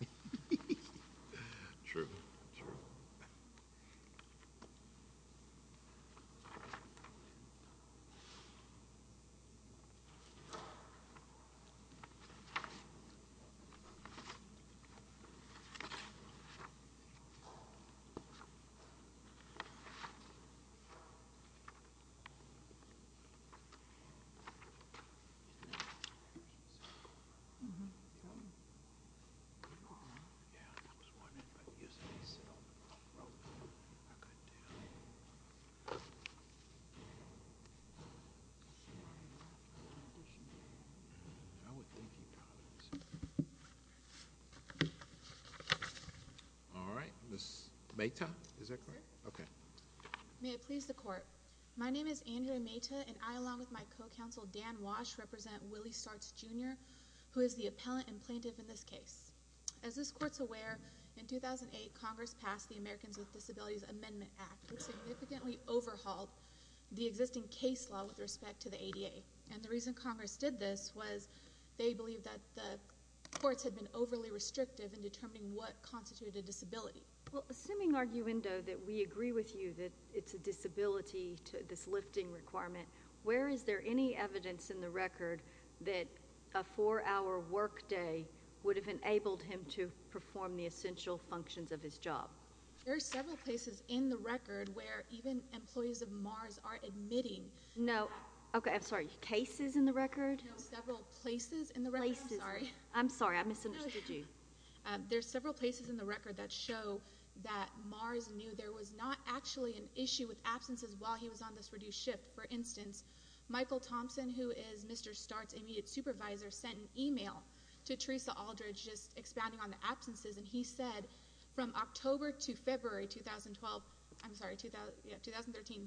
Hehehehehehe True, true Alright, Ms. Mayta, is that correct? May I please the court? My name is Andrea Mayta, and I along with my co-counsel Dan Walsh represent Willie Starts, Jr. who is the appellant and plaintiff in this case. As this court's aware, in 2008, Congress passed the Americans with Disabilities Amendment Act, which significantly overhauled the existing case law with respect to the ADA. And the reason Congress did this was they believed that the courts had been overly restrictive in determining what constituted a disability. Well, assuming, arguendo, that we agree with you that it's a disability, this lifting requirement, where is there any evidence in the record that a four-hour workday would have enabled him to perform the essential functions of his job? There are several places in the record where even employees of Mars are admitting. No, okay, I'm sorry, cases in the record? No, several places in the record. I'm sorry, I misunderstood you. There are several places in the record that show that Mars knew there was not actually an issue with absences while he was on this reduced shift. For instance, Michael Thompson, who is Mr. Start's immediate supervisor, sent an email to Teresa Aldridge just expounding on the absences, and he said from October to February 2013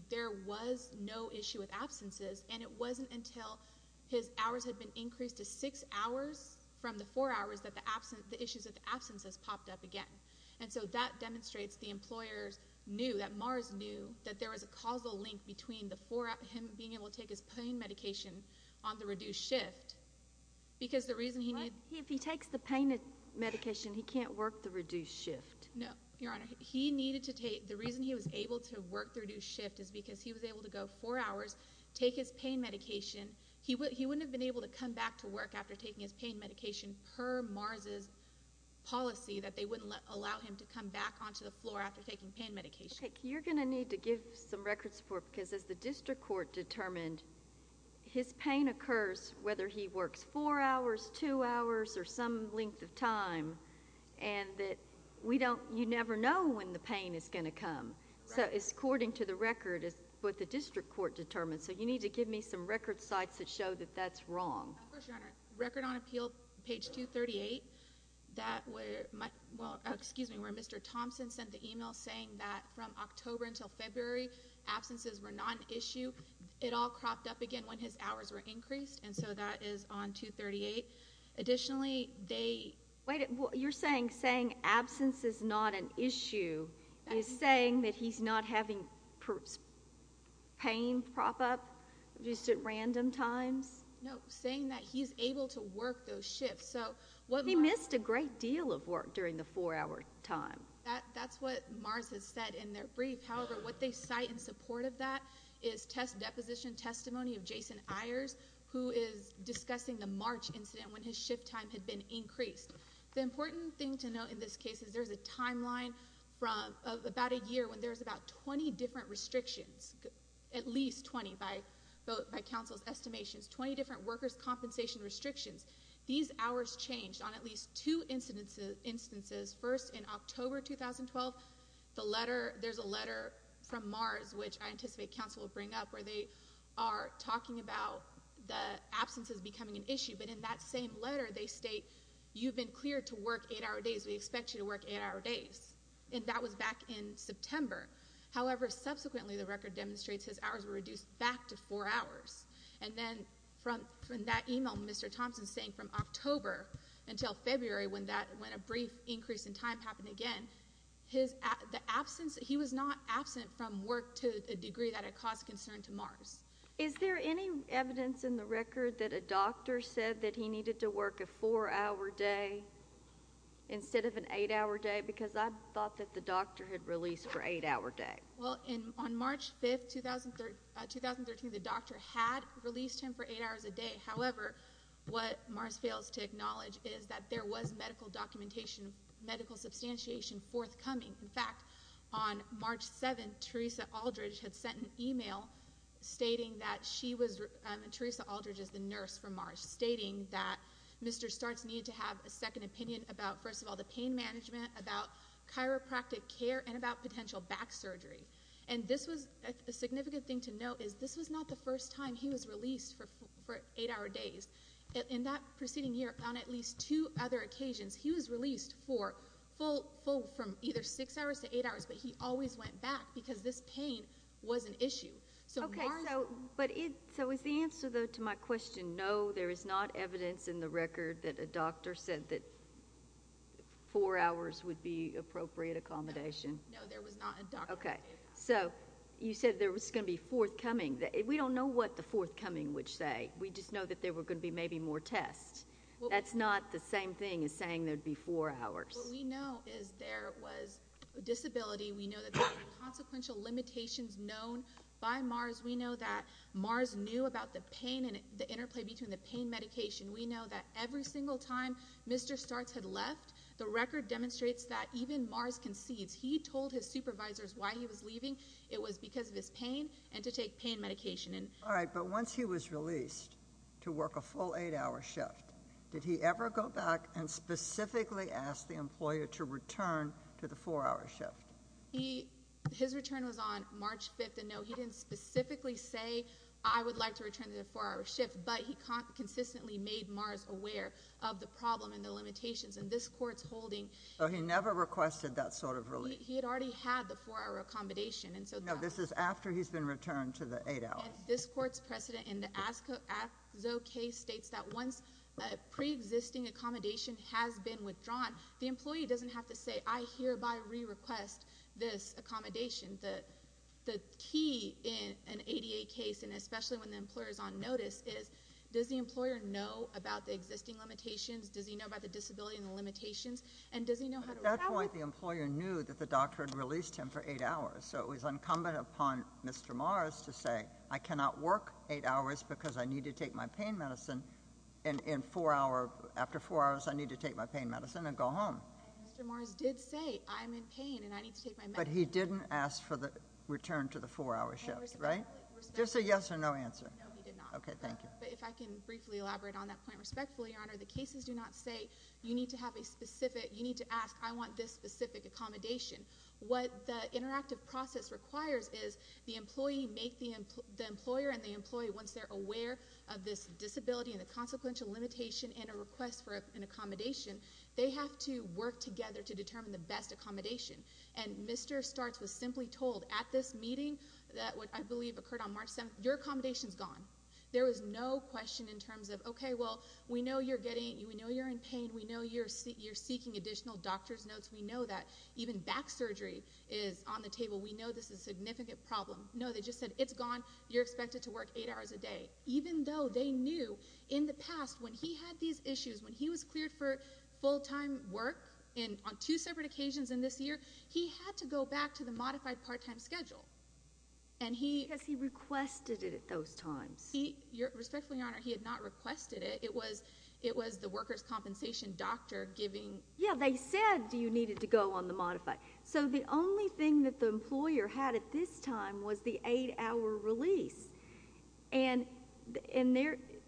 there was no issue with absences, and it wasn't until his hours had been increased to six hours from the four hours that the issues with absences popped up again. And so that demonstrates the employers knew, that Mars knew, that there was a causal link between him being able to take his pain medication on the reduced shift, because the reason he needed— If he takes the pain medication, he can't work the reduced shift. No, Your Honor, he needed to take—the reason he was able to work the reduced shift is because he was able to go four hours, take his pain medication. He wouldn't have been able to come back to work after taking his pain medication per Mars' policy that they wouldn't allow him to come back onto the floor after taking pain medication. You're going to need to give some record support, because as the district court determined, his pain occurs whether he works four hours, two hours, or some length of time, and that we don't—you never know when the pain is going to come. So it's according to the record, what the district court determined. So you need to give me some record sites that show that that's wrong. Of course, Your Honor. Record on appeal, page 238, where Mr. Thompson sent the email saying that from October until February, absences were not an issue. It all cropped up again when his hours were increased, and so that is on 238. Additionally, they— Wait, you're saying absence is not an issue. You're saying that he's not having pain prop up just at random times? No, saying that he's able to work those shifts. He missed a great deal of work during the four-hour time. That's what Mars has said in their brief. However, what they cite in support of that is test deposition testimony of Jason Ayers, who is discussing the March incident when his shift time had been increased. The important thing to note in this case is there's a timeline from about a year when there's about 20 different restrictions, at least 20 by counsel's estimations, 20 different workers' compensation restrictions. These hours changed on at least two instances. First, in October 2012, there's a letter from Mars, which I anticipate counsel will bring up, where they are talking about the absences becoming an issue. But in that same letter, they state, you've been cleared to work eight-hour days. We expect you to work eight-hour days. And that was back in September. However, subsequently the record demonstrates his hours were reduced back to four hours. And then from that email, Mr. Thompson's saying from October until February when a brief increase in time happened again, he was not absent from work to a degree that it caused concern to Mars. Is there any evidence in the record that a doctor said that he needed to work a four-hour day instead of an eight-hour day? Because I thought that the doctor had released for eight-hour day. Well, on March 5, 2013, the doctor had released him for eight hours a day. However, what Mars fails to acknowledge is that there was medical documentation, medical substantiation forthcoming. In fact, on March 7, Teresa Aldridge had sent an email stating that she was the nurse for Mars, stating that Mr. Starts needed to have a second opinion about, first of all, the pain management, about chiropractic care, and about potential back surgery. And this was a significant thing to note is this was not the first time he was released for eight-hour days. In that preceding year, on at least two other occasions, he was released from either six hours to eight hours, Okay, so is the answer, though, to my question, no, there is not evidence in the record that a doctor said that four hours would be appropriate accommodation? No, there was not a doctor. Okay, so you said there was going to be forthcoming. We don't know what the forthcoming would say. We just know that there were going to be maybe more tests. That's not the same thing as saying there would be four hours. What we know is there was a disability. We know that there were consequential limitations known by Mars. We know that Mars knew about the pain and the interplay between the pain medication. We know that every single time Mr. Starts had left, the record demonstrates that even Mars concedes. He told his supervisors why he was leaving. It was because of his pain and to take pain medication. All right, but once he was released to work a full eight-hour shift, did he ever go back and specifically ask the employer to return to the four-hour shift? His return was on March 5th, and no, he didn't specifically say, I would like to return to the four-hour shift, but he consistently made Mars aware of the problem and the limitations, and this court's holding, So he never requested that sort of release. He had already had the four-hour accommodation, and so, No, this is after he's been returned to the eight hours. And this court's precedent in the ASCO case states that once pre-existing accommodation has been withdrawn, the employee doesn't have to say, I hereby re-request this accommodation. The key in an ADA case, and especially when the employer is on notice, is does the employer know about the existing limitations? Does he know about the disability and the limitations? And does he know how to recover? At that point, the employer knew that the doctor had released him for eight hours, so it was incumbent upon Mr. Mars to say, I cannot work eight hours because I need to take my pain medicine, and after four hours, I need to take my pain medicine and go home. And Mr. Mars did say, I'm in pain, and I need to take my medicine. But he didn't ask for the return to the four-hour shift, right? Just a yes or no answer. No, he did not. Okay, thank you. But if I can briefly elaborate on that point respectfully, Your Honor, the cases do not say, you need to ask, I want this specific accommodation. What the interactive process requires is the employer and the employee, once they're aware of this disability and the consequential limitation and a request for an accommodation, they have to work together to determine the best accommodation. And Mr. Startz was simply told at this meeting that what I believe occurred on March 7th, your accommodation is gone. There was no question in terms of, okay, well, we know you're in pain. We know you're seeking additional doctor's notes. We know that even back surgery is on the table. We know this is a significant problem. No, they just said, it's gone. You're expected to work eight hours a day. Even though they knew in the past when he had these issues, when he was cleared for full-time work on two separate occasions in this year, he had to go back to the modified part-time schedule. Because he requested it at those times. Respectfully, Your Honor, he had not requested it. It was the workers' compensation doctor giving. Yeah, they said you needed to go on the modified. So the only thing that the employer had at this time was the eight-hour release. And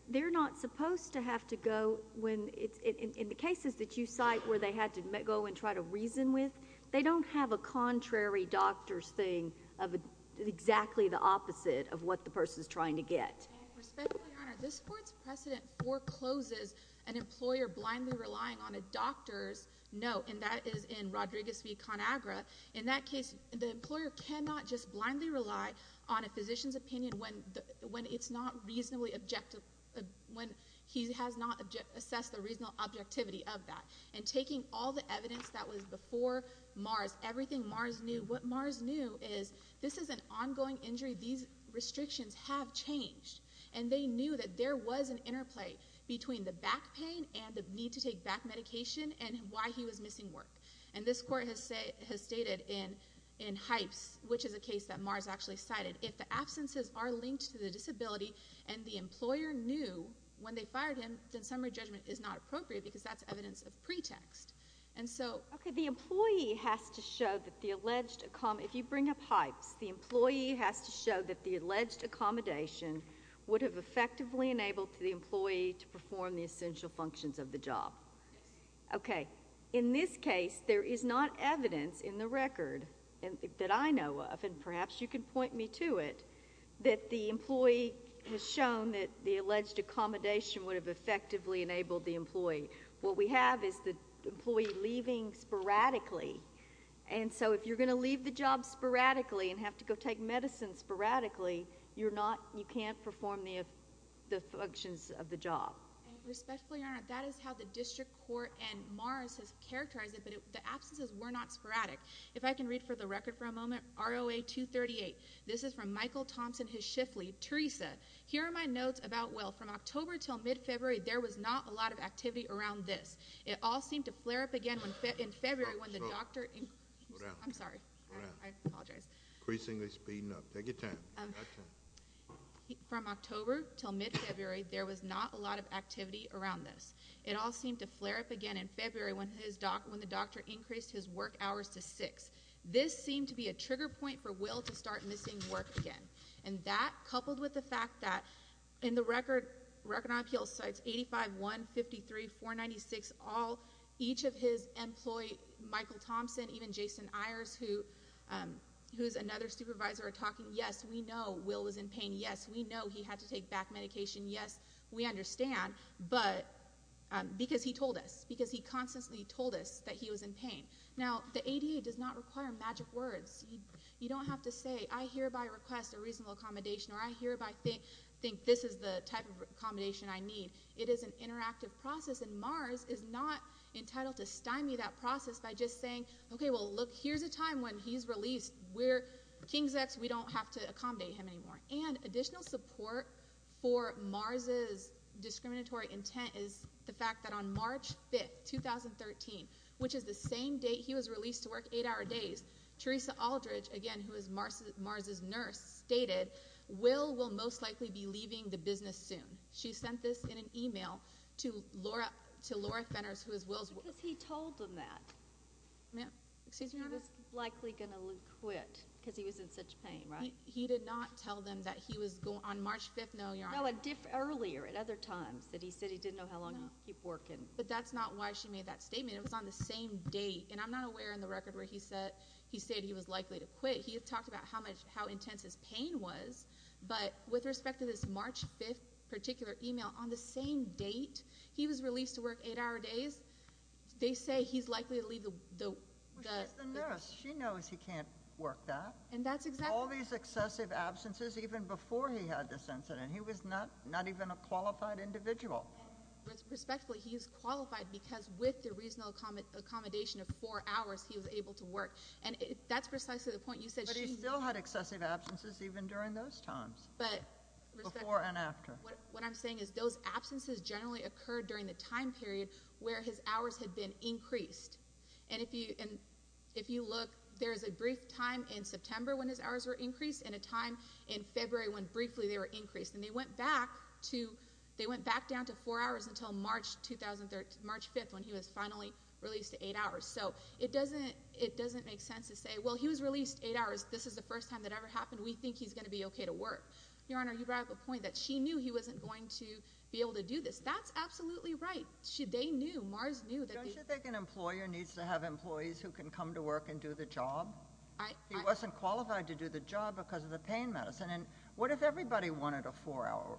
they're not supposed to have to go when it's – in the cases that you cite where they had to go and try to reason with, they don't have a contrary doctor's thing of exactly the opposite of what the person's trying to get. Respectfully, Your Honor, this Court's precedent forecloses an employer blindly relying on a doctor's note. And that is in Rodriguez v. Conagra. In that case, the employer cannot just blindly rely on a physician's opinion when it's not reasonably objective – when he has not assessed the reasonable objectivity of that. And taking all the evidence that was before Mars, everything Mars knew, what Mars knew is this is an ongoing injury. These restrictions have changed. And they knew that there was an interplay between the back pain and the need to take back medication and why he was missing work. And this Court has stated in Hypes, which is a case that Mars actually cited, if the absences are linked to the disability and the employer knew when they fired him, then summary judgment is not appropriate because that's evidence of pretext. Okay, the employee has to show that the alleged – if you bring up Hypes, the employee has to show that the alleged accommodation would have effectively enabled the employee to perform the essential functions of the job. Okay, in this case, there is not evidence in the record that I know of, and perhaps you can point me to it, that the employee has shown that the alleged accommodation would have effectively enabled the employee. What we have is the employee leaving sporadically. And so if you're going to leave the job sporadically and have to go take medicine sporadically, you're not – you can't perform the functions of the job. Respectfully, Your Honor, that is how the district court and Mars has characterized it, but the absences were not sporadic. If I can read for the record for a moment, ROA 238. This is from Michael Thompson, his shift lead, Teresa. Here are my notes about, well, from October until mid-February, there was not a lot of activity around this. It all seemed to flare up again in February when the doctor – Increasingly speeding up. Take your time. From October until mid-February, there was not a lot of activity around this. It all seemed to flare up again in February when the doctor increased his work hours to six. This seemed to be a trigger point for Will to start missing work again. And that, coupled with the fact that in the record, record on appeal sites 85-1, 53, 496, all – each of his employee, Michael Thompson, even Jason Ayers, who is another supervisor, are talking, yes, we know Will was in pain, yes, we know he had to take back medication, yes, we understand, but – because he told us, because he constantly told us that he was in pain. Now, the ADA does not require magic words. You don't have to say, I hereby request a reasonable accommodation or I hereby think this is the type of accommodation I need. It is an interactive process, and Mars is not entitled to stymie that process by just saying, okay, well, look, here's a time when he's released. We're – King's X, we don't have to accommodate him anymore. And additional support for Mars' discriminatory intent is the fact that on March 5th, 2013, which is the same date he was released to work eight-hour days, Teresa Aldridge, again, who is Mars' nurse, stated, Will will most likely be leaving the business soon. She sent this in an email to Laura Fenners, who is Will's – Because he told them that. He was likely going to quit because he was in such pain, right? He did not tell them that he was – on March 5th, no. No, earlier at other times that he said he didn't know how long he'd keep working. But that's not why she made that statement. It was on the same date. And I'm not aware in the record where he said he was likely to quit. He talked about how intense his pain was. But with respect to this March 5th particular email, on the same date he was released to work eight-hour days, they say he's likely to leave the – Well, she's the nurse. She knows he can't work that. And that's exactly – All these excessive absences even before he had this incident. He was not even a qualified individual. Respectfully, he is qualified because with the reasonable accommodation of four hours, he was able to work. And that's precisely the point you said she – But he still had excessive absences even during those times. But – Before and after. What I'm saying is those absences generally occurred during the time period where his hours had been increased. And if you look, there's a brief time in September when his hours were increased and a time in February when briefly they were increased. And they went back to – They went back down to four hours until March 5th when he was finally released to eight hours. So it doesn't make sense to say, well, he was released eight hours. This is the first time that ever happened. We think he's going to be okay to work. Your Honor, you brought up a point that she knew he wasn't going to be able to do this. That's absolutely right. They knew. Mars knew. Don't you think an employer needs to have employees who can come to work and do the job? He wasn't qualified to do the job because of the pain medicine. And what if everybody wanted a four-hour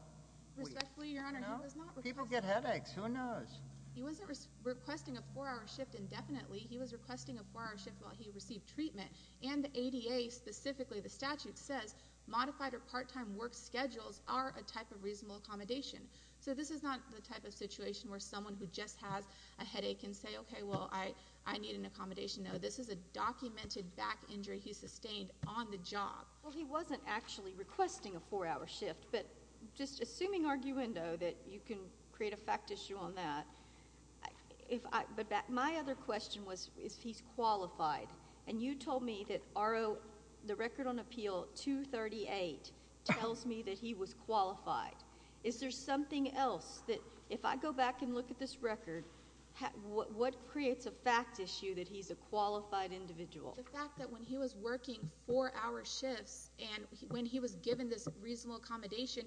week? Respectfully, Your Honor, he was not – People get headaches. Who knows? He wasn't requesting a four-hour shift indefinitely. He was requesting a four-hour shift while he received treatment. And the ADA, specifically the statute, says modified or part-time work schedules are a type of reasonable accommodation. So this is not the type of situation where someone who just has a headache can say, okay, well, I need an accommodation. No, this is a documented back injury he sustained on the job. Well, he wasn't actually requesting a four-hour shift. But just assuming arguendo that you can create a fact issue on that, my other question was if he's qualified. And you told me that the record on appeal 238 tells me that he was qualified. Is there something else that if I go back and look at this record, what creates a fact issue that he's a qualified individual? The fact that when he was working four-hour shifts and when he was given this reasonable accommodation,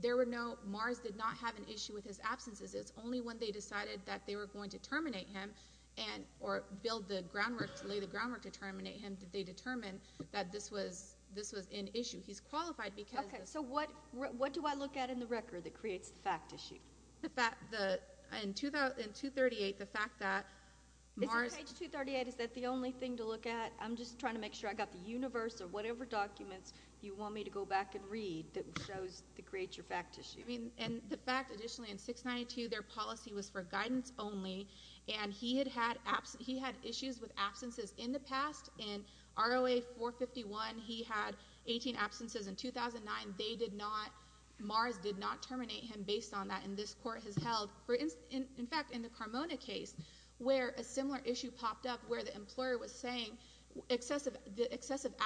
there were no – Mars did not have an issue with his absences. Only when they decided that they were going to terminate him or build the groundwork to lay the groundwork to terminate him did they determine that this was an issue. He's qualified because – Okay. So what do I look at in the record that creates the fact issue? In 238, the fact that Mars – Is it page 238? Is that the only thing to look at? I'm just trying to make sure I got the universe or whatever documents you want me to go back and read that shows the creature fact issue. And the fact, additionally, in 692, their policy was for guidance only, and he had issues with absences in the past. In ROA 451, he had 18 absences. In 2009, they did not – Mars did not terminate him based on that, and this Court has held. In fact, in the Carmona case, where a similar issue popped up where the employer was saying excessive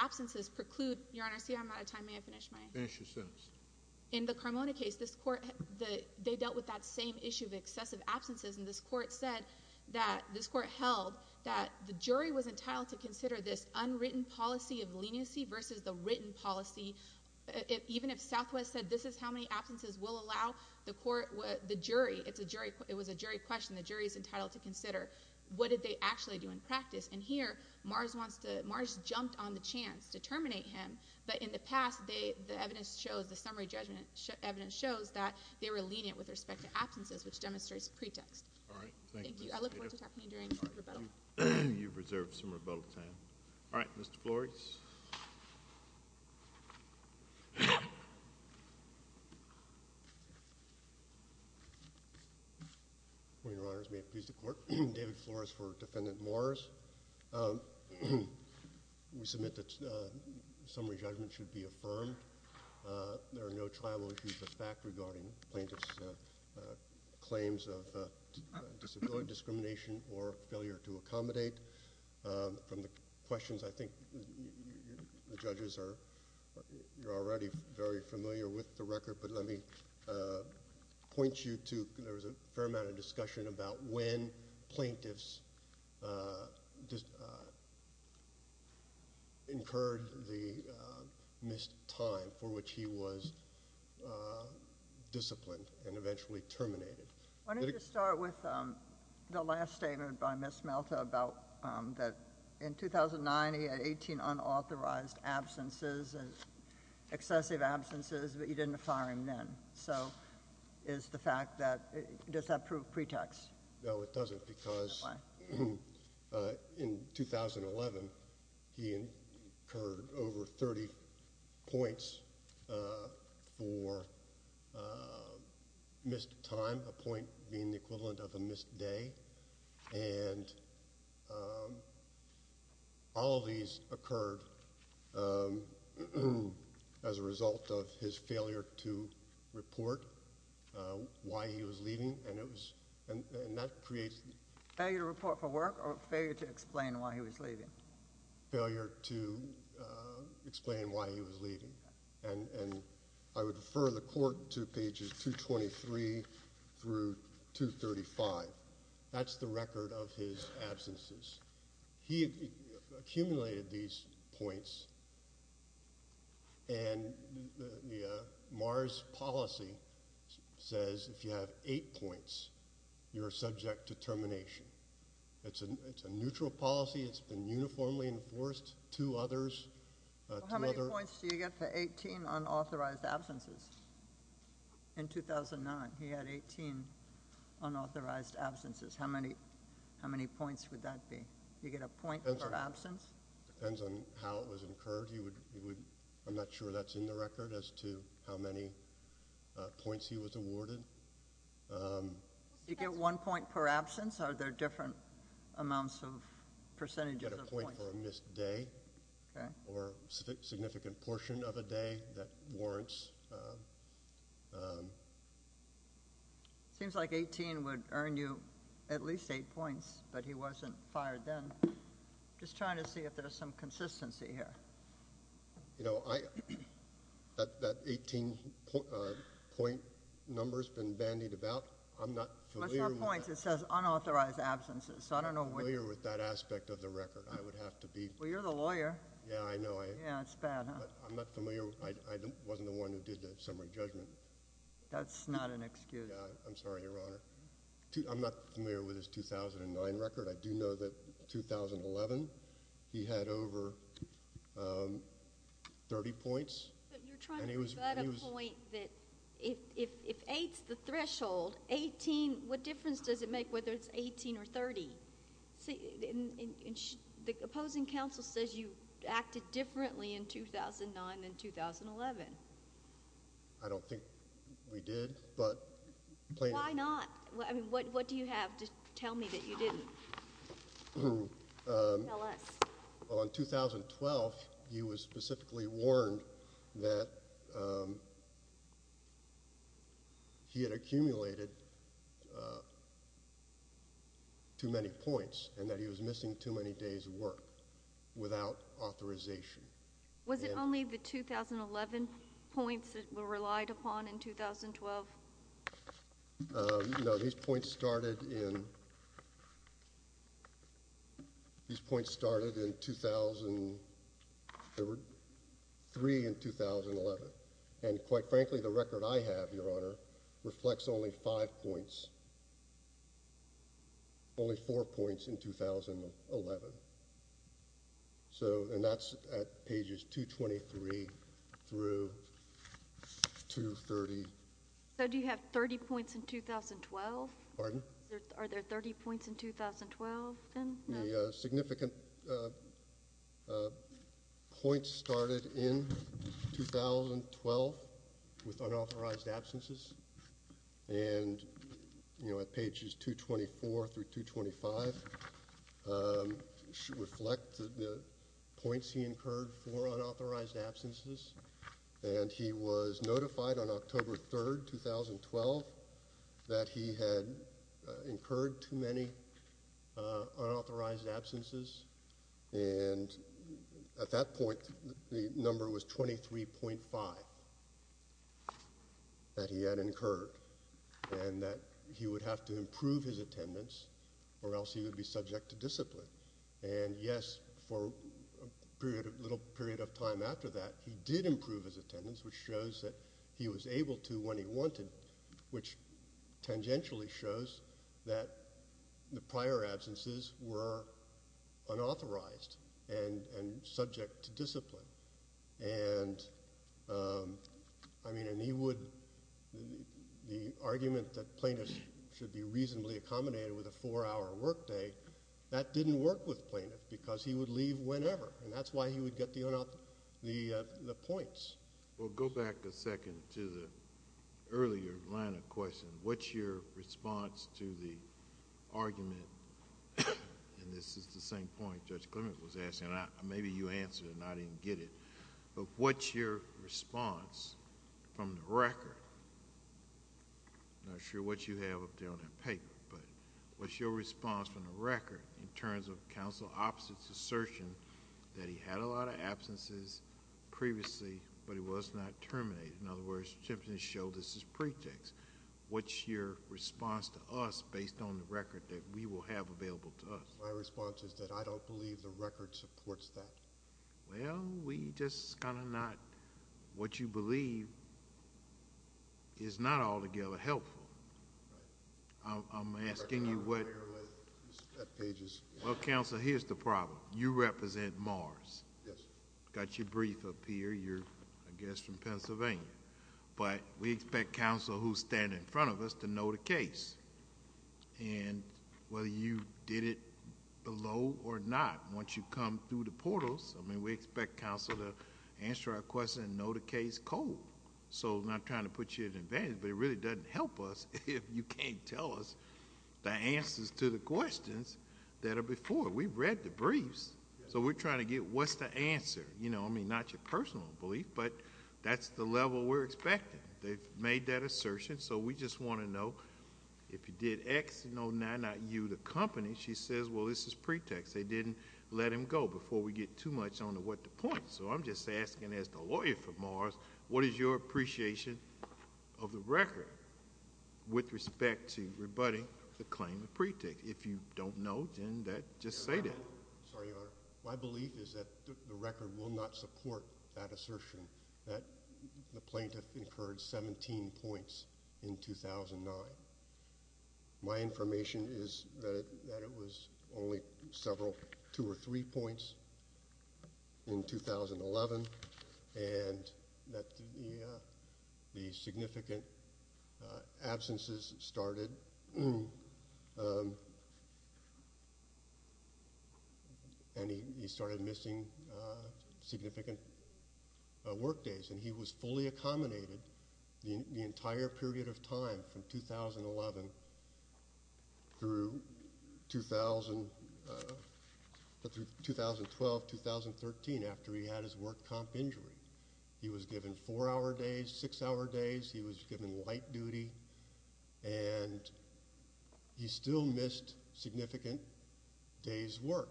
absences preclude – Your Honor, see, I'm out of time. May I finish my – Finish your sentence. In the Carmona case, this Court – they dealt with that same issue of excessive absences, and this Court said that – this Court held that the jury was entitled to consider this unwritten policy of leniency versus the written policy. Even if Southwest said this is how many absences will allow, the court – the jury – it's a jury – it was a jury question. The jury is entitled to consider what did they actually do in practice. And here, Mars wants to – Mars jumped on the chance to terminate him. But in the past, the evidence shows – the summary judgment evidence shows that they were lenient with respect to absences, which demonstrates pretext. All right. Thank you. I look forward to talking to you during rebuttal. You've reserved some rebuttal time. All right. Mr. Flores. Your Honors, may it please the Court, David Flores for Defendant Mars. We submit that summary judgment should be affirmed. There are no triable issues of fact regarding plaintiff's claims of disability discrimination or failure to accommodate. From the questions, I think the judges are – you're already very familiar with the record. But let me point you to – there was a fair amount of discussion about when plaintiffs incurred the missed time for which he was disciplined and eventually terminated. I wanted to start with the last statement by Ms. Melta about that in 2009, he had 18 unauthorized absences, excessive absences, but you didn't fire him then. So is the fact that – does that prove pretext? No, it doesn't because in 2011, he incurred over 30 points for missed time, a point being the equivalent of a missed day. And all these occurred as a result of his failure to report why he was leaving, and that creates – Failure to report for work or failure to explain why he was leaving? Failure to explain why he was leaving. And I would refer the Court to pages 223 through 235. That's the record of his absences. He accumulated these points, and the MARS policy says if you have eight points, you're subject to termination. It's a neutral policy. It's been uniformly enforced. Two others – So how many points do you get for 18 unauthorized absences? In 2009, he had 18 unauthorized absences. How many points would that be? You get a point per absence? Depends on how it was incurred. I'm not sure that's in the record as to how many points he was awarded. You get one point per absence? Are there different amounts of percentages of points? You get a point for a missed day or a significant portion of a day. That warrants – It seems like 18 would earn you at least eight points, but he wasn't fired then. I'm just trying to see if there's some consistency here. You know, that 18-point number has been bandied about. I'm not familiar with that. It's not points. It says unauthorized absences. I'm not familiar with that aspect of the record. I would have to be. Well, you're the lawyer. Yeah, I know. Yeah, it's bad, huh? I'm not familiar. I wasn't the one who did the summary judgment. That's not an excuse. I'm sorry, Your Honor. I'm not familiar with his 2009 record. I do know that 2011, he had over 30 points. You're trying to provide a point that if eight's the threshold, what difference does it make whether it's 18 or 30? The opposing counsel says you acted differently in 2009 than 2011. I don't think we did. Why not? I mean, what do you have to tell me that you didn't? Tell us. Well, in 2012, he was specifically warned that he had accumulated too many points and that he was missing too many days of work without authorization. Was it only the 2011 points that were relied upon in 2012? No, these points started in 2003 and 2011. And quite frankly, the record I have, Your Honor, reflects only five points, only four points in 2011. And that's at pages 223 through 230. So do you have 30 points in 2012? Pardon? Are there 30 points in 2012? The significant points started in 2012 with unauthorized absences. And at pages 224 through 225 reflect the points he incurred for unauthorized absences. And he was notified on October 3, 2012, that he had incurred too many unauthorized absences. And at that point, the number was 23.5 that he had incurred, and that he would have to improve his attendance or else he would be subject to discipline. And, yes, for a little period of time after that, he did improve his attendance, which shows that he was able to when he wanted, which tangentially shows that the prior absences were unauthorized and subject to discipline. And, I mean, the argument that plaintiffs should be reasonably accommodated with a four-hour workday, that didn't work with plaintiffs because he would leave whenever, and that's why he would get the points. Well, go back a second to the earlier line of question. What's your response to the argument, and this is the same point Judge Clement was asking, and maybe you answered it and I didn't get it, but what's your response from the record? I'm not sure what you have up there on that paper, but what's your response from the record in terms of counsel opposite's assertion that he had a lot of absences previously, but he was not terminated. In other words, Simpson showed this as pretext. What's your response to us based on the record that we will have available to us? My response is that I don't believe the record supports that. Well, we just kind of not. What you believe is not altogether helpful. I'm asking you what. Well, counsel, here's the problem. You represent Mars. Yes. Got your brief up here. You're, I guess, from Pennsylvania, but we expect counsel who's standing in front of us to know the case, and whether you did it below or not, once you come through the portals, I mean we expect counsel to answer our question and know the case cold. So I'm not trying to put you at advantage, but it really doesn't help us if you can't tell us the answers to the questions that are before. We've read the briefs, so we're trying to get what's the answer. I mean, not your personal belief, but that's the level we're expecting. They've made that assertion, so we just want to know if you did X, no, not U, the company, she says, well, this is pretext. They didn't let him go before we get too much on the what the point. So I'm just asking, as the lawyer for Mars, what is your appreciation of the record with respect to rebutting the claim of pretext? If you don't know, then just say that. Sorry, Your Honor. My belief is that the record will not support that assertion, that the plaintiff incurred 17 points in 2009. My information is that it was only several, two or three points in 2011, and that the significant absences started and he started missing significant work days, and he was fully accommodated the entire period of time from 2011 through 2012, 2013, after he had his work comp injury. He was given four-hour days, six-hour days. He was given light duty, and he still missed significant days' work,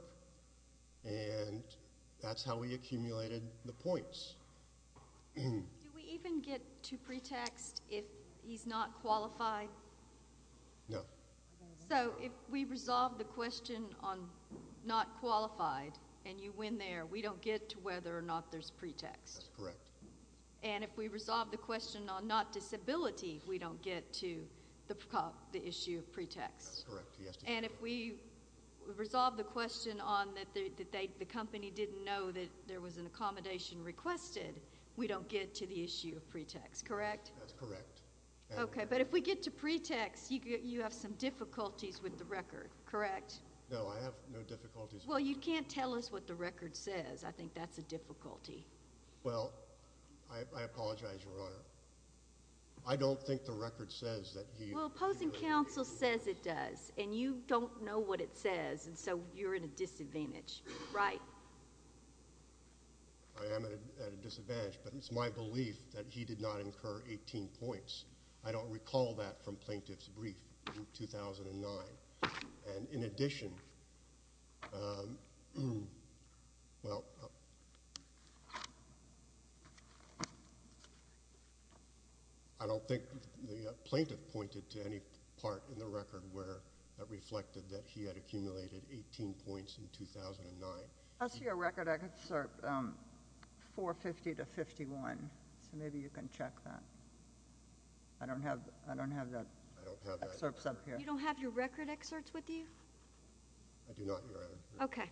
and that's how we accumulated the points. Do we even get to pretext if he's not qualified? No. So if we resolve the question on not qualified and you win there, we don't get to whether or not there's pretext. That's correct. And if we resolve the question on not disability, we don't get to the issue of pretext. That's correct. And if we resolve the question on that the company didn't know that there was an accommodation requested, we don't get to the issue of pretext. Correct? That's correct. Okay. But if we get to pretext, you have some difficulties with the record. Correct? No. I have no difficulties. Well, you can't tell us what the record says. I think that's a difficulty. Well, I apologize, Your Honor. I don't think the record says that he... Well, opposing counsel says it does, and you don't know what it says, and so you're at a disadvantage. Right? I am at a disadvantage, but it's my belief that he did not incur 18 points. I don't recall that from plaintiff's brief in 2009. And in addition... Well, I don't think the plaintiff pointed to any part in the record where it reflected that he had accumulated 18 points in 2009. As for your record, I can assert 450 to 51, so maybe you can check that. I don't have that. I don't have that. You don't have your record excerpts with you? I do not, Your Honor. Okay.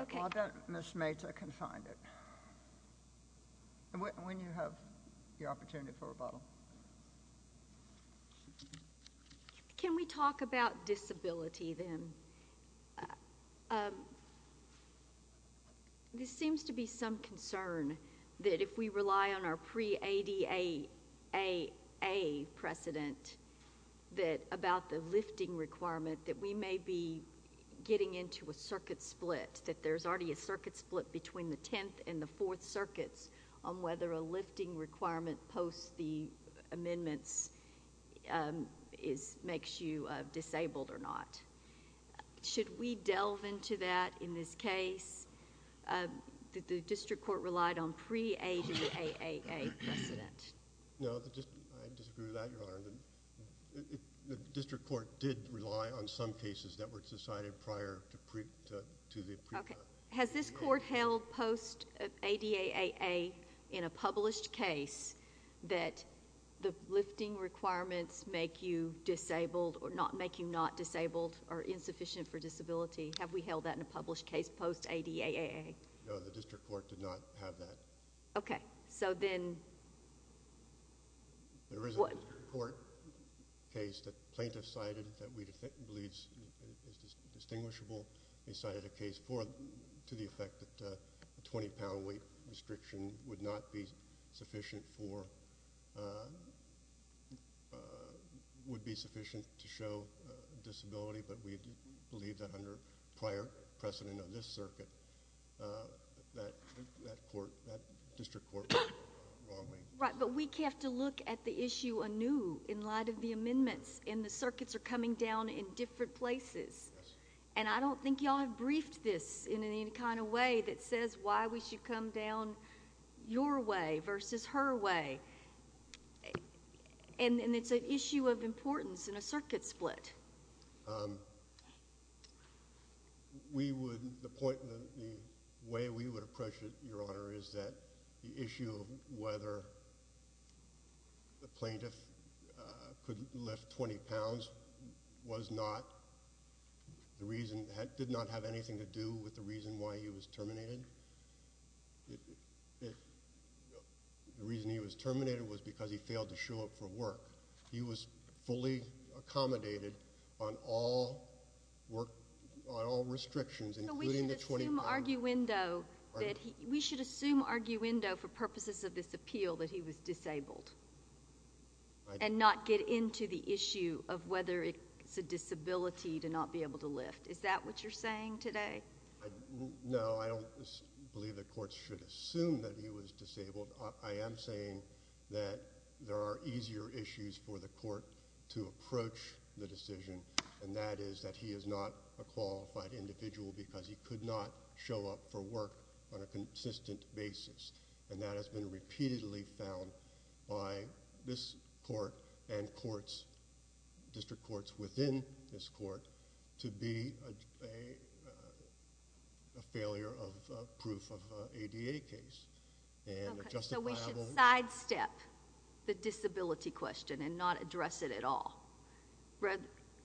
Okay. I'll bet Ms. Mata can find it. When you have your opportunity for rebuttal. Can we talk about disability then? This seems to be some concern that if we rely on our pre-ADA precedent about the lifting requirement, that we may be getting into a circuit split, that there's already a circuit split between the Tenth and the Fourth Circuits on whether a lifting requirement post the amendments makes you disabled or not. Should we delve into that in this case? The district court relied on pre-ADA precedent. No. I disagree with that, Your Honor. The district court did rely on some cases that were decided prior to the... Okay. Has this court held post-ADA in a published case that the lifting requirements make you disabled or make you not disabled or insufficient for disability? Have we held that in a published case post-ADA? No, the district court did not have that. Okay. So then... There is a district court case that plaintiffs cited that we believe is distinguishable. They cited a case to the effect that a 20-pound weight restriction would not be sufficient for... would be sufficient to show disability, but we believe that under prior precedent of this circuit, that court... that district court went the wrong way. Right, but we have to look at the issue anew in light of the amendments, and the circuits are coming down in different places. Yes. And I don't think you all have briefed this in any kind of way that says why we should come down your way versus her way. And it's an issue of importance in a circuit split. We would... the point... the way we would approach it, Your Honor, is that the issue of whether the plaintiff could lift 20 pounds was not... the reason... did not have anything to do with the reason why he was terminated. The reason he was terminated was because he failed to show up for work. He was fully accommodated on all work... on all restrictions, including the 20 pounds. So we should assume arguendo that he... We should assume arguendo for purposes of this appeal that he was disabled and not get into the issue of whether it's a disability to not be able to lift. Is that what you're saying today? No, I don't believe the courts should assume that he was disabled. I am saying that there are easier issues for the court to approach the decision, and that is that he is not a qualified individual because he could not show up for work on a consistent basis. And that has been repeatedly found by this court and courts, district courts within this court, to be a failure of proof of an ADA case. Okay, so we should sidestep the disability question and not address it at all,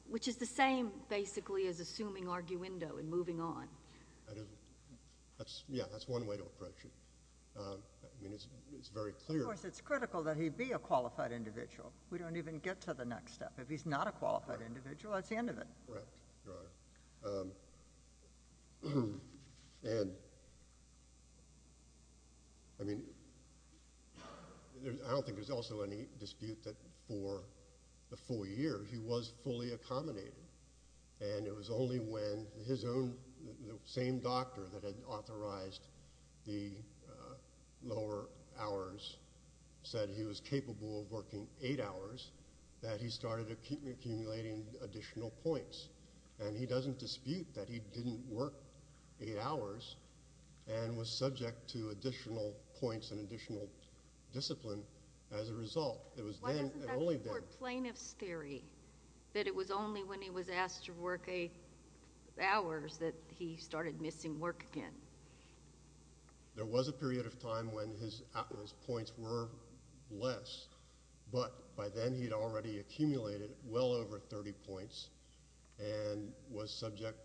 which is the same, basically, as assuming arguendo and moving on. Yeah, that's one way to approach it. I mean, it's very clear... Of course, it's critical that he be a qualified individual. We don't even get to the next step. If he's not a qualified individual, that's the end of it. Correct, Your Honor. And, I mean, I don't think there's also any dispute that for the four years he was fully accommodated, and it was only when his own, the same doctor that had authorized the lower hours, said he was capable of working eight hours, that he started accumulating additional points. And he doesn't dispute that he didn't work eight hours and was subject to additional points and additional discipline as a result. Why doesn't that support plaintiff's theory, that it was only when he was asked to work eight hours that he started missing work again? There was a period of time when his points were less, but by then he had already accumulated well over 30 points and was subject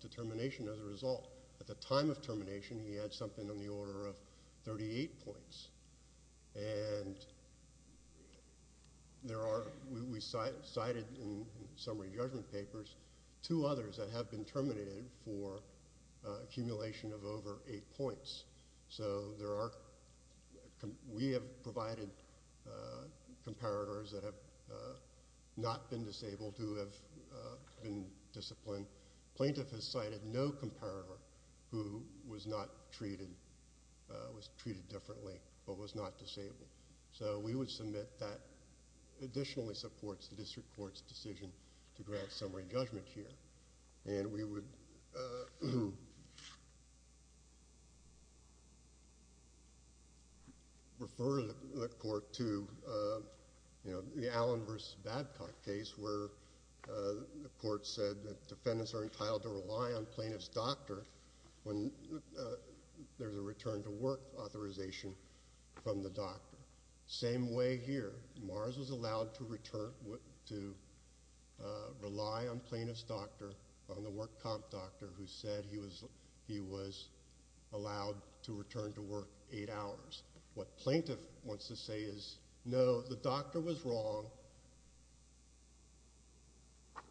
to termination as a result. At the time of termination, he had something on the order of 38 points. And there are, we cited in summary judgment papers, two others that have been terminated for accumulation of over eight points. So there are, we have provided comparators that have not been disabled who have been disciplined. Plaintiff has cited no comparator who was not treated, was treated differently, but was not disabled. So we would submit that additionally supports the district court's decision to grant summary judgment here. And we would refer the court to the Allen v. Babcock case where the court said that defendants are entitled to rely on plaintiff's doctor when there's a return to work authorization from the doctor. Same way here. Mars was allowed to rely on plaintiff's doctor, on the work comp doctor, who said he was allowed to return to work eight hours. What plaintiff wants to say is, no, the doctor was wrong.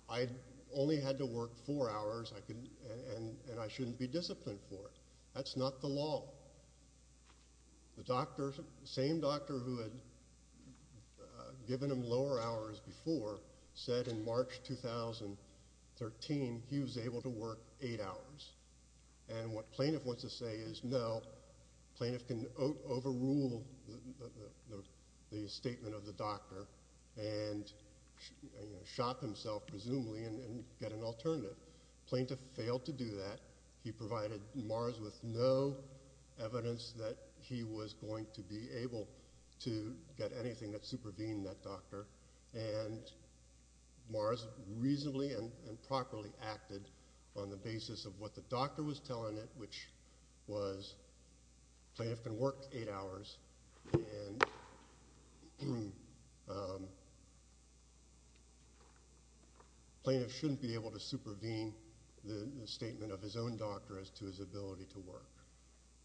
I only had to work four hours and I shouldn't be disciplined for it. That's not the law. The same doctor who had given him lower hours before said in March 2013 he was able to work eight hours. And what plaintiff wants to say is, no, plaintiff can overrule the statement of the doctor and shock himself presumably and get an alternative. Plaintiff failed to do that. He provided Mars with no evidence that he was going to be able to get anything that supervened that doctor. And Mars reasonably and properly acted on the basis of what the doctor was telling it, which was plaintiff can work eight hours and plaintiff shouldn't be able to supervene the statement of his own doctor as to his ability to work.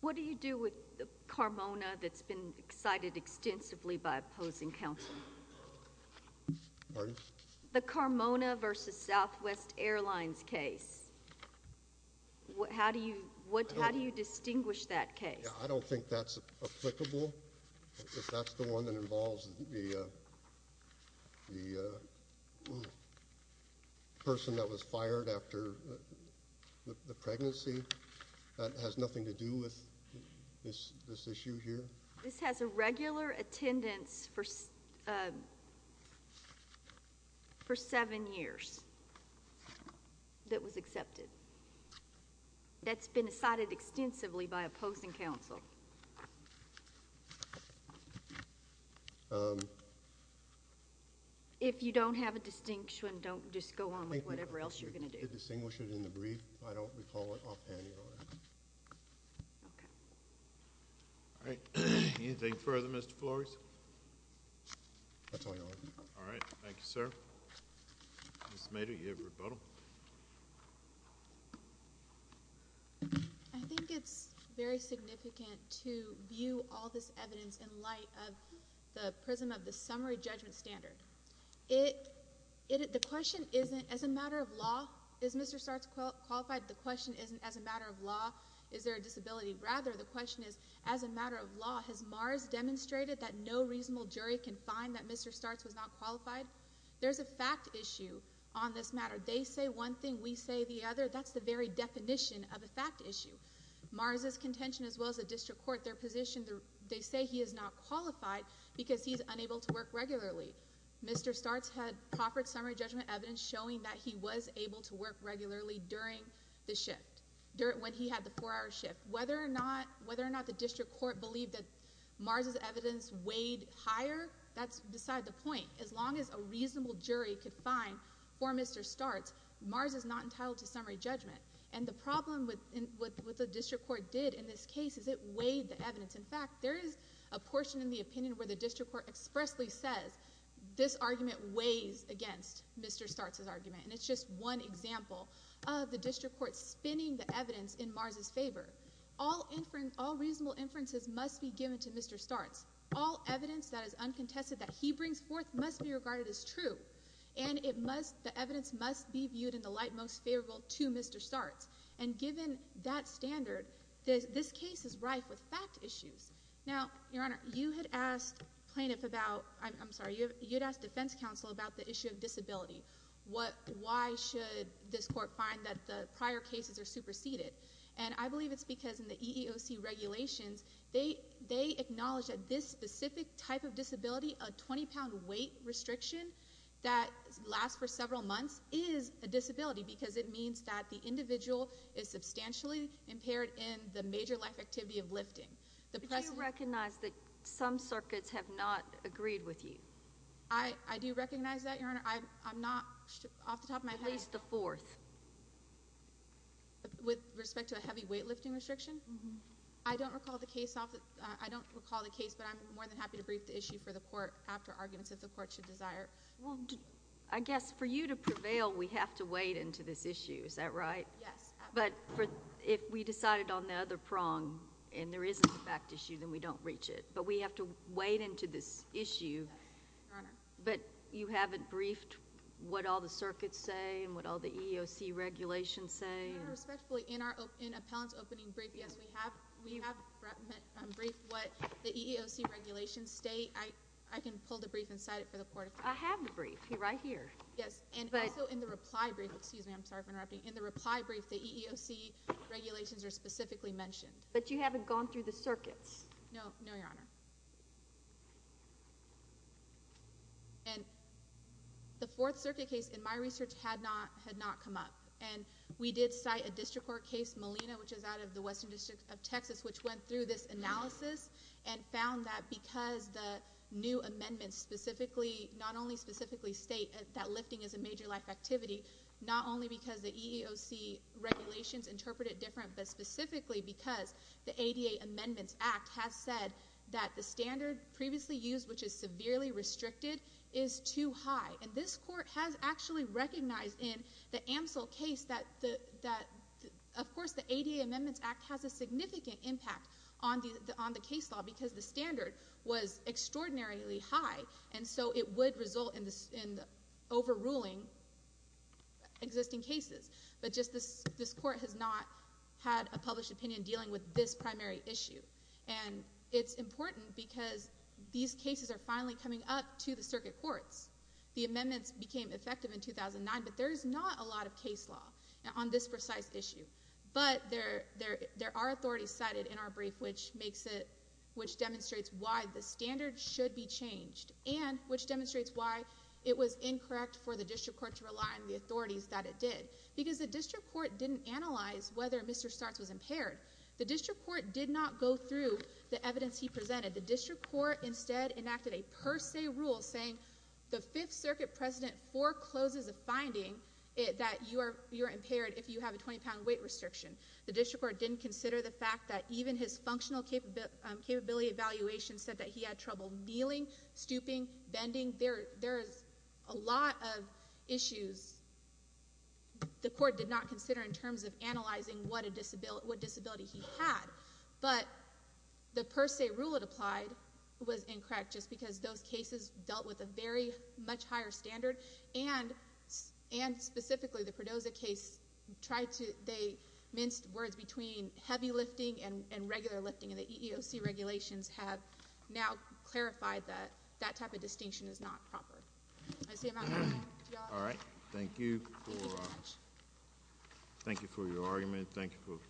What do you do with the Carmona that's been cited extensively by opposing counsel? Pardon? The Carmona versus Southwest Airlines case. How do you distinguish that case? I don't think that's applicable. If that's the one that involves the person that was fired after the pregnancy, that has nothing to do with this issue here? This has a regular attendance for seven years that was accepted. That's been cited extensively by opposing counsel. If you don't have a distinction, don't just go on with whatever else you're going to do. To distinguish it in the brief, I don't recall it offhand, Your Honor. Okay. All right. Anything further, Mr. Flores? That's all, Your Honor. All right. Thank you, sir. Ms. Smader, you have rebuttal. I think it's very significant to view all this evidence in light of the prism of the summary judgment standard. The question isn't, as a matter of law, is Mr. Startz qualified? The question isn't, as a matter of law, is there a disability? Rather, the question is, as a matter of law, has Mars demonstrated that no reasonable jury can find that Mr. Startz was not qualified? There's a fact issue on this matter. They say one thing, we say the other. That's the very definition of a fact issue. Mars' contention, as well as the district court, their position, they say he is not qualified because he's unable to work regularly. Mr. Startz had proffered summary judgment evidence showing that he was able to work regularly during the shift, when he had the four-hour shift. Whether or not the district court believed that Mars' evidence weighed higher, that's beside the point. As long as a reasonable jury could find for Mr. Startz, Mars is not entitled to summary judgment. And the problem with what the district court did in this case is it weighed the evidence. In fact, there is a portion in the opinion where the district court expressly says this argument weighs against Mr. Startz's argument. And it's just one example of the district court spinning the evidence in Mars' favor. All reasonable inferences must be given to Mr. Startz. All evidence that is uncontested that he brings forth must be regarded as true. And the evidence must be viewed in the light most favorable to Mr. Startz. And given that standard, this case is rife with fact issues. Now, Your Honor, you had asked defense counsel about the issue of disability. Why should this court find that the prior cases are superseded? And I believe it's because in the EEOC regulations, they acknowledge that this specific type of disability, a 20-pound weight restriction that lasts for several months is a disability because it means that the individual is substantially impaired in the major life activity of lifting. Do you recognize that some circuits have not agreed with you? I do recognize that, Your Honor. I'm not off the top of my head. At least the fourth. With respect to a heavy weight lifting restriction? I don't recall the case, but I'm more than happy to brief the issue for the court after arguments if the court should desire. Well, I guess for you to prevail, we have to wade into this issue. Is that right? Yes. But if we decided on the other prong and there is a fact issue, then we don't reach it. But we have to wade into this issue. Your Honor. But you haven't briefed what all the circuits say and what all the EEOC regulations say? Your Honor, respectfully, in our appellant's opening brief, yes, we have briefed what the EEOC regulations state. I can pull the brief and cite it for the court. I have the brief. It's right here. Yes, and also in the reply brief. Excuse me, I'm sorry for interrupting. In the reply brief, the EEOC regulations are specifically mentioned. But you haven't gone through the circuits? No, Your Honor. And the Fourth Circuit case, in my research, had not come up. And we did cite a district court case, Molina, which is out of the Western District of Texas, which went through this analysis and found that because the new amendments specifically, not only specifically state that lifting is a major life activity, not only because the EEOC regulations interpret it different, but specifically because the ADA Amendments Act has said that the standard previously used, which is severely restricted, is too high. And this court has actually recognized in the Amsel case that, of course, the ADA Amendments Act has a significant impact on the case law because the standard was extraordinarily high. And so it would result in overruling existing cases. But just this court has not had a published opinion dealing with this primary issue. And it's important because these cases are finally coming up to the circuit courts. The amendments became effective in 2009, but there is not a lot of case law on this precise issue. But there are authorities cited in our brief, which makes it, which demonstrates why the standard should be changed and which demonstrates why it was incorrect for the district court to rely on the authorities that it did. Because the district court didn't analyze whether Mr. Startz was impaired. The district court did not go through the evidence he presented. The district court instead enacted a per se rule saying, the Fifth Circuit President forecloses a finding that you are impaired if you have a 20-pound weight restriction. The district court didn't consider the fact that even his functional capability evaluation said that he had trouble kneeling, stooping, bending. I think there is a lot of issues the court did not consider in terms of analyzing what disability he had. But the per se rule it applied was incorrect just because those cases dealt with a very much higher standard. And specifically the Perdoza case tried to, they minced words between heavy lifting and regular lifting. And the EEOC regulations have now clarified that that type of distinction is not proper. That's the amount I have. All right. Thank you for your argument.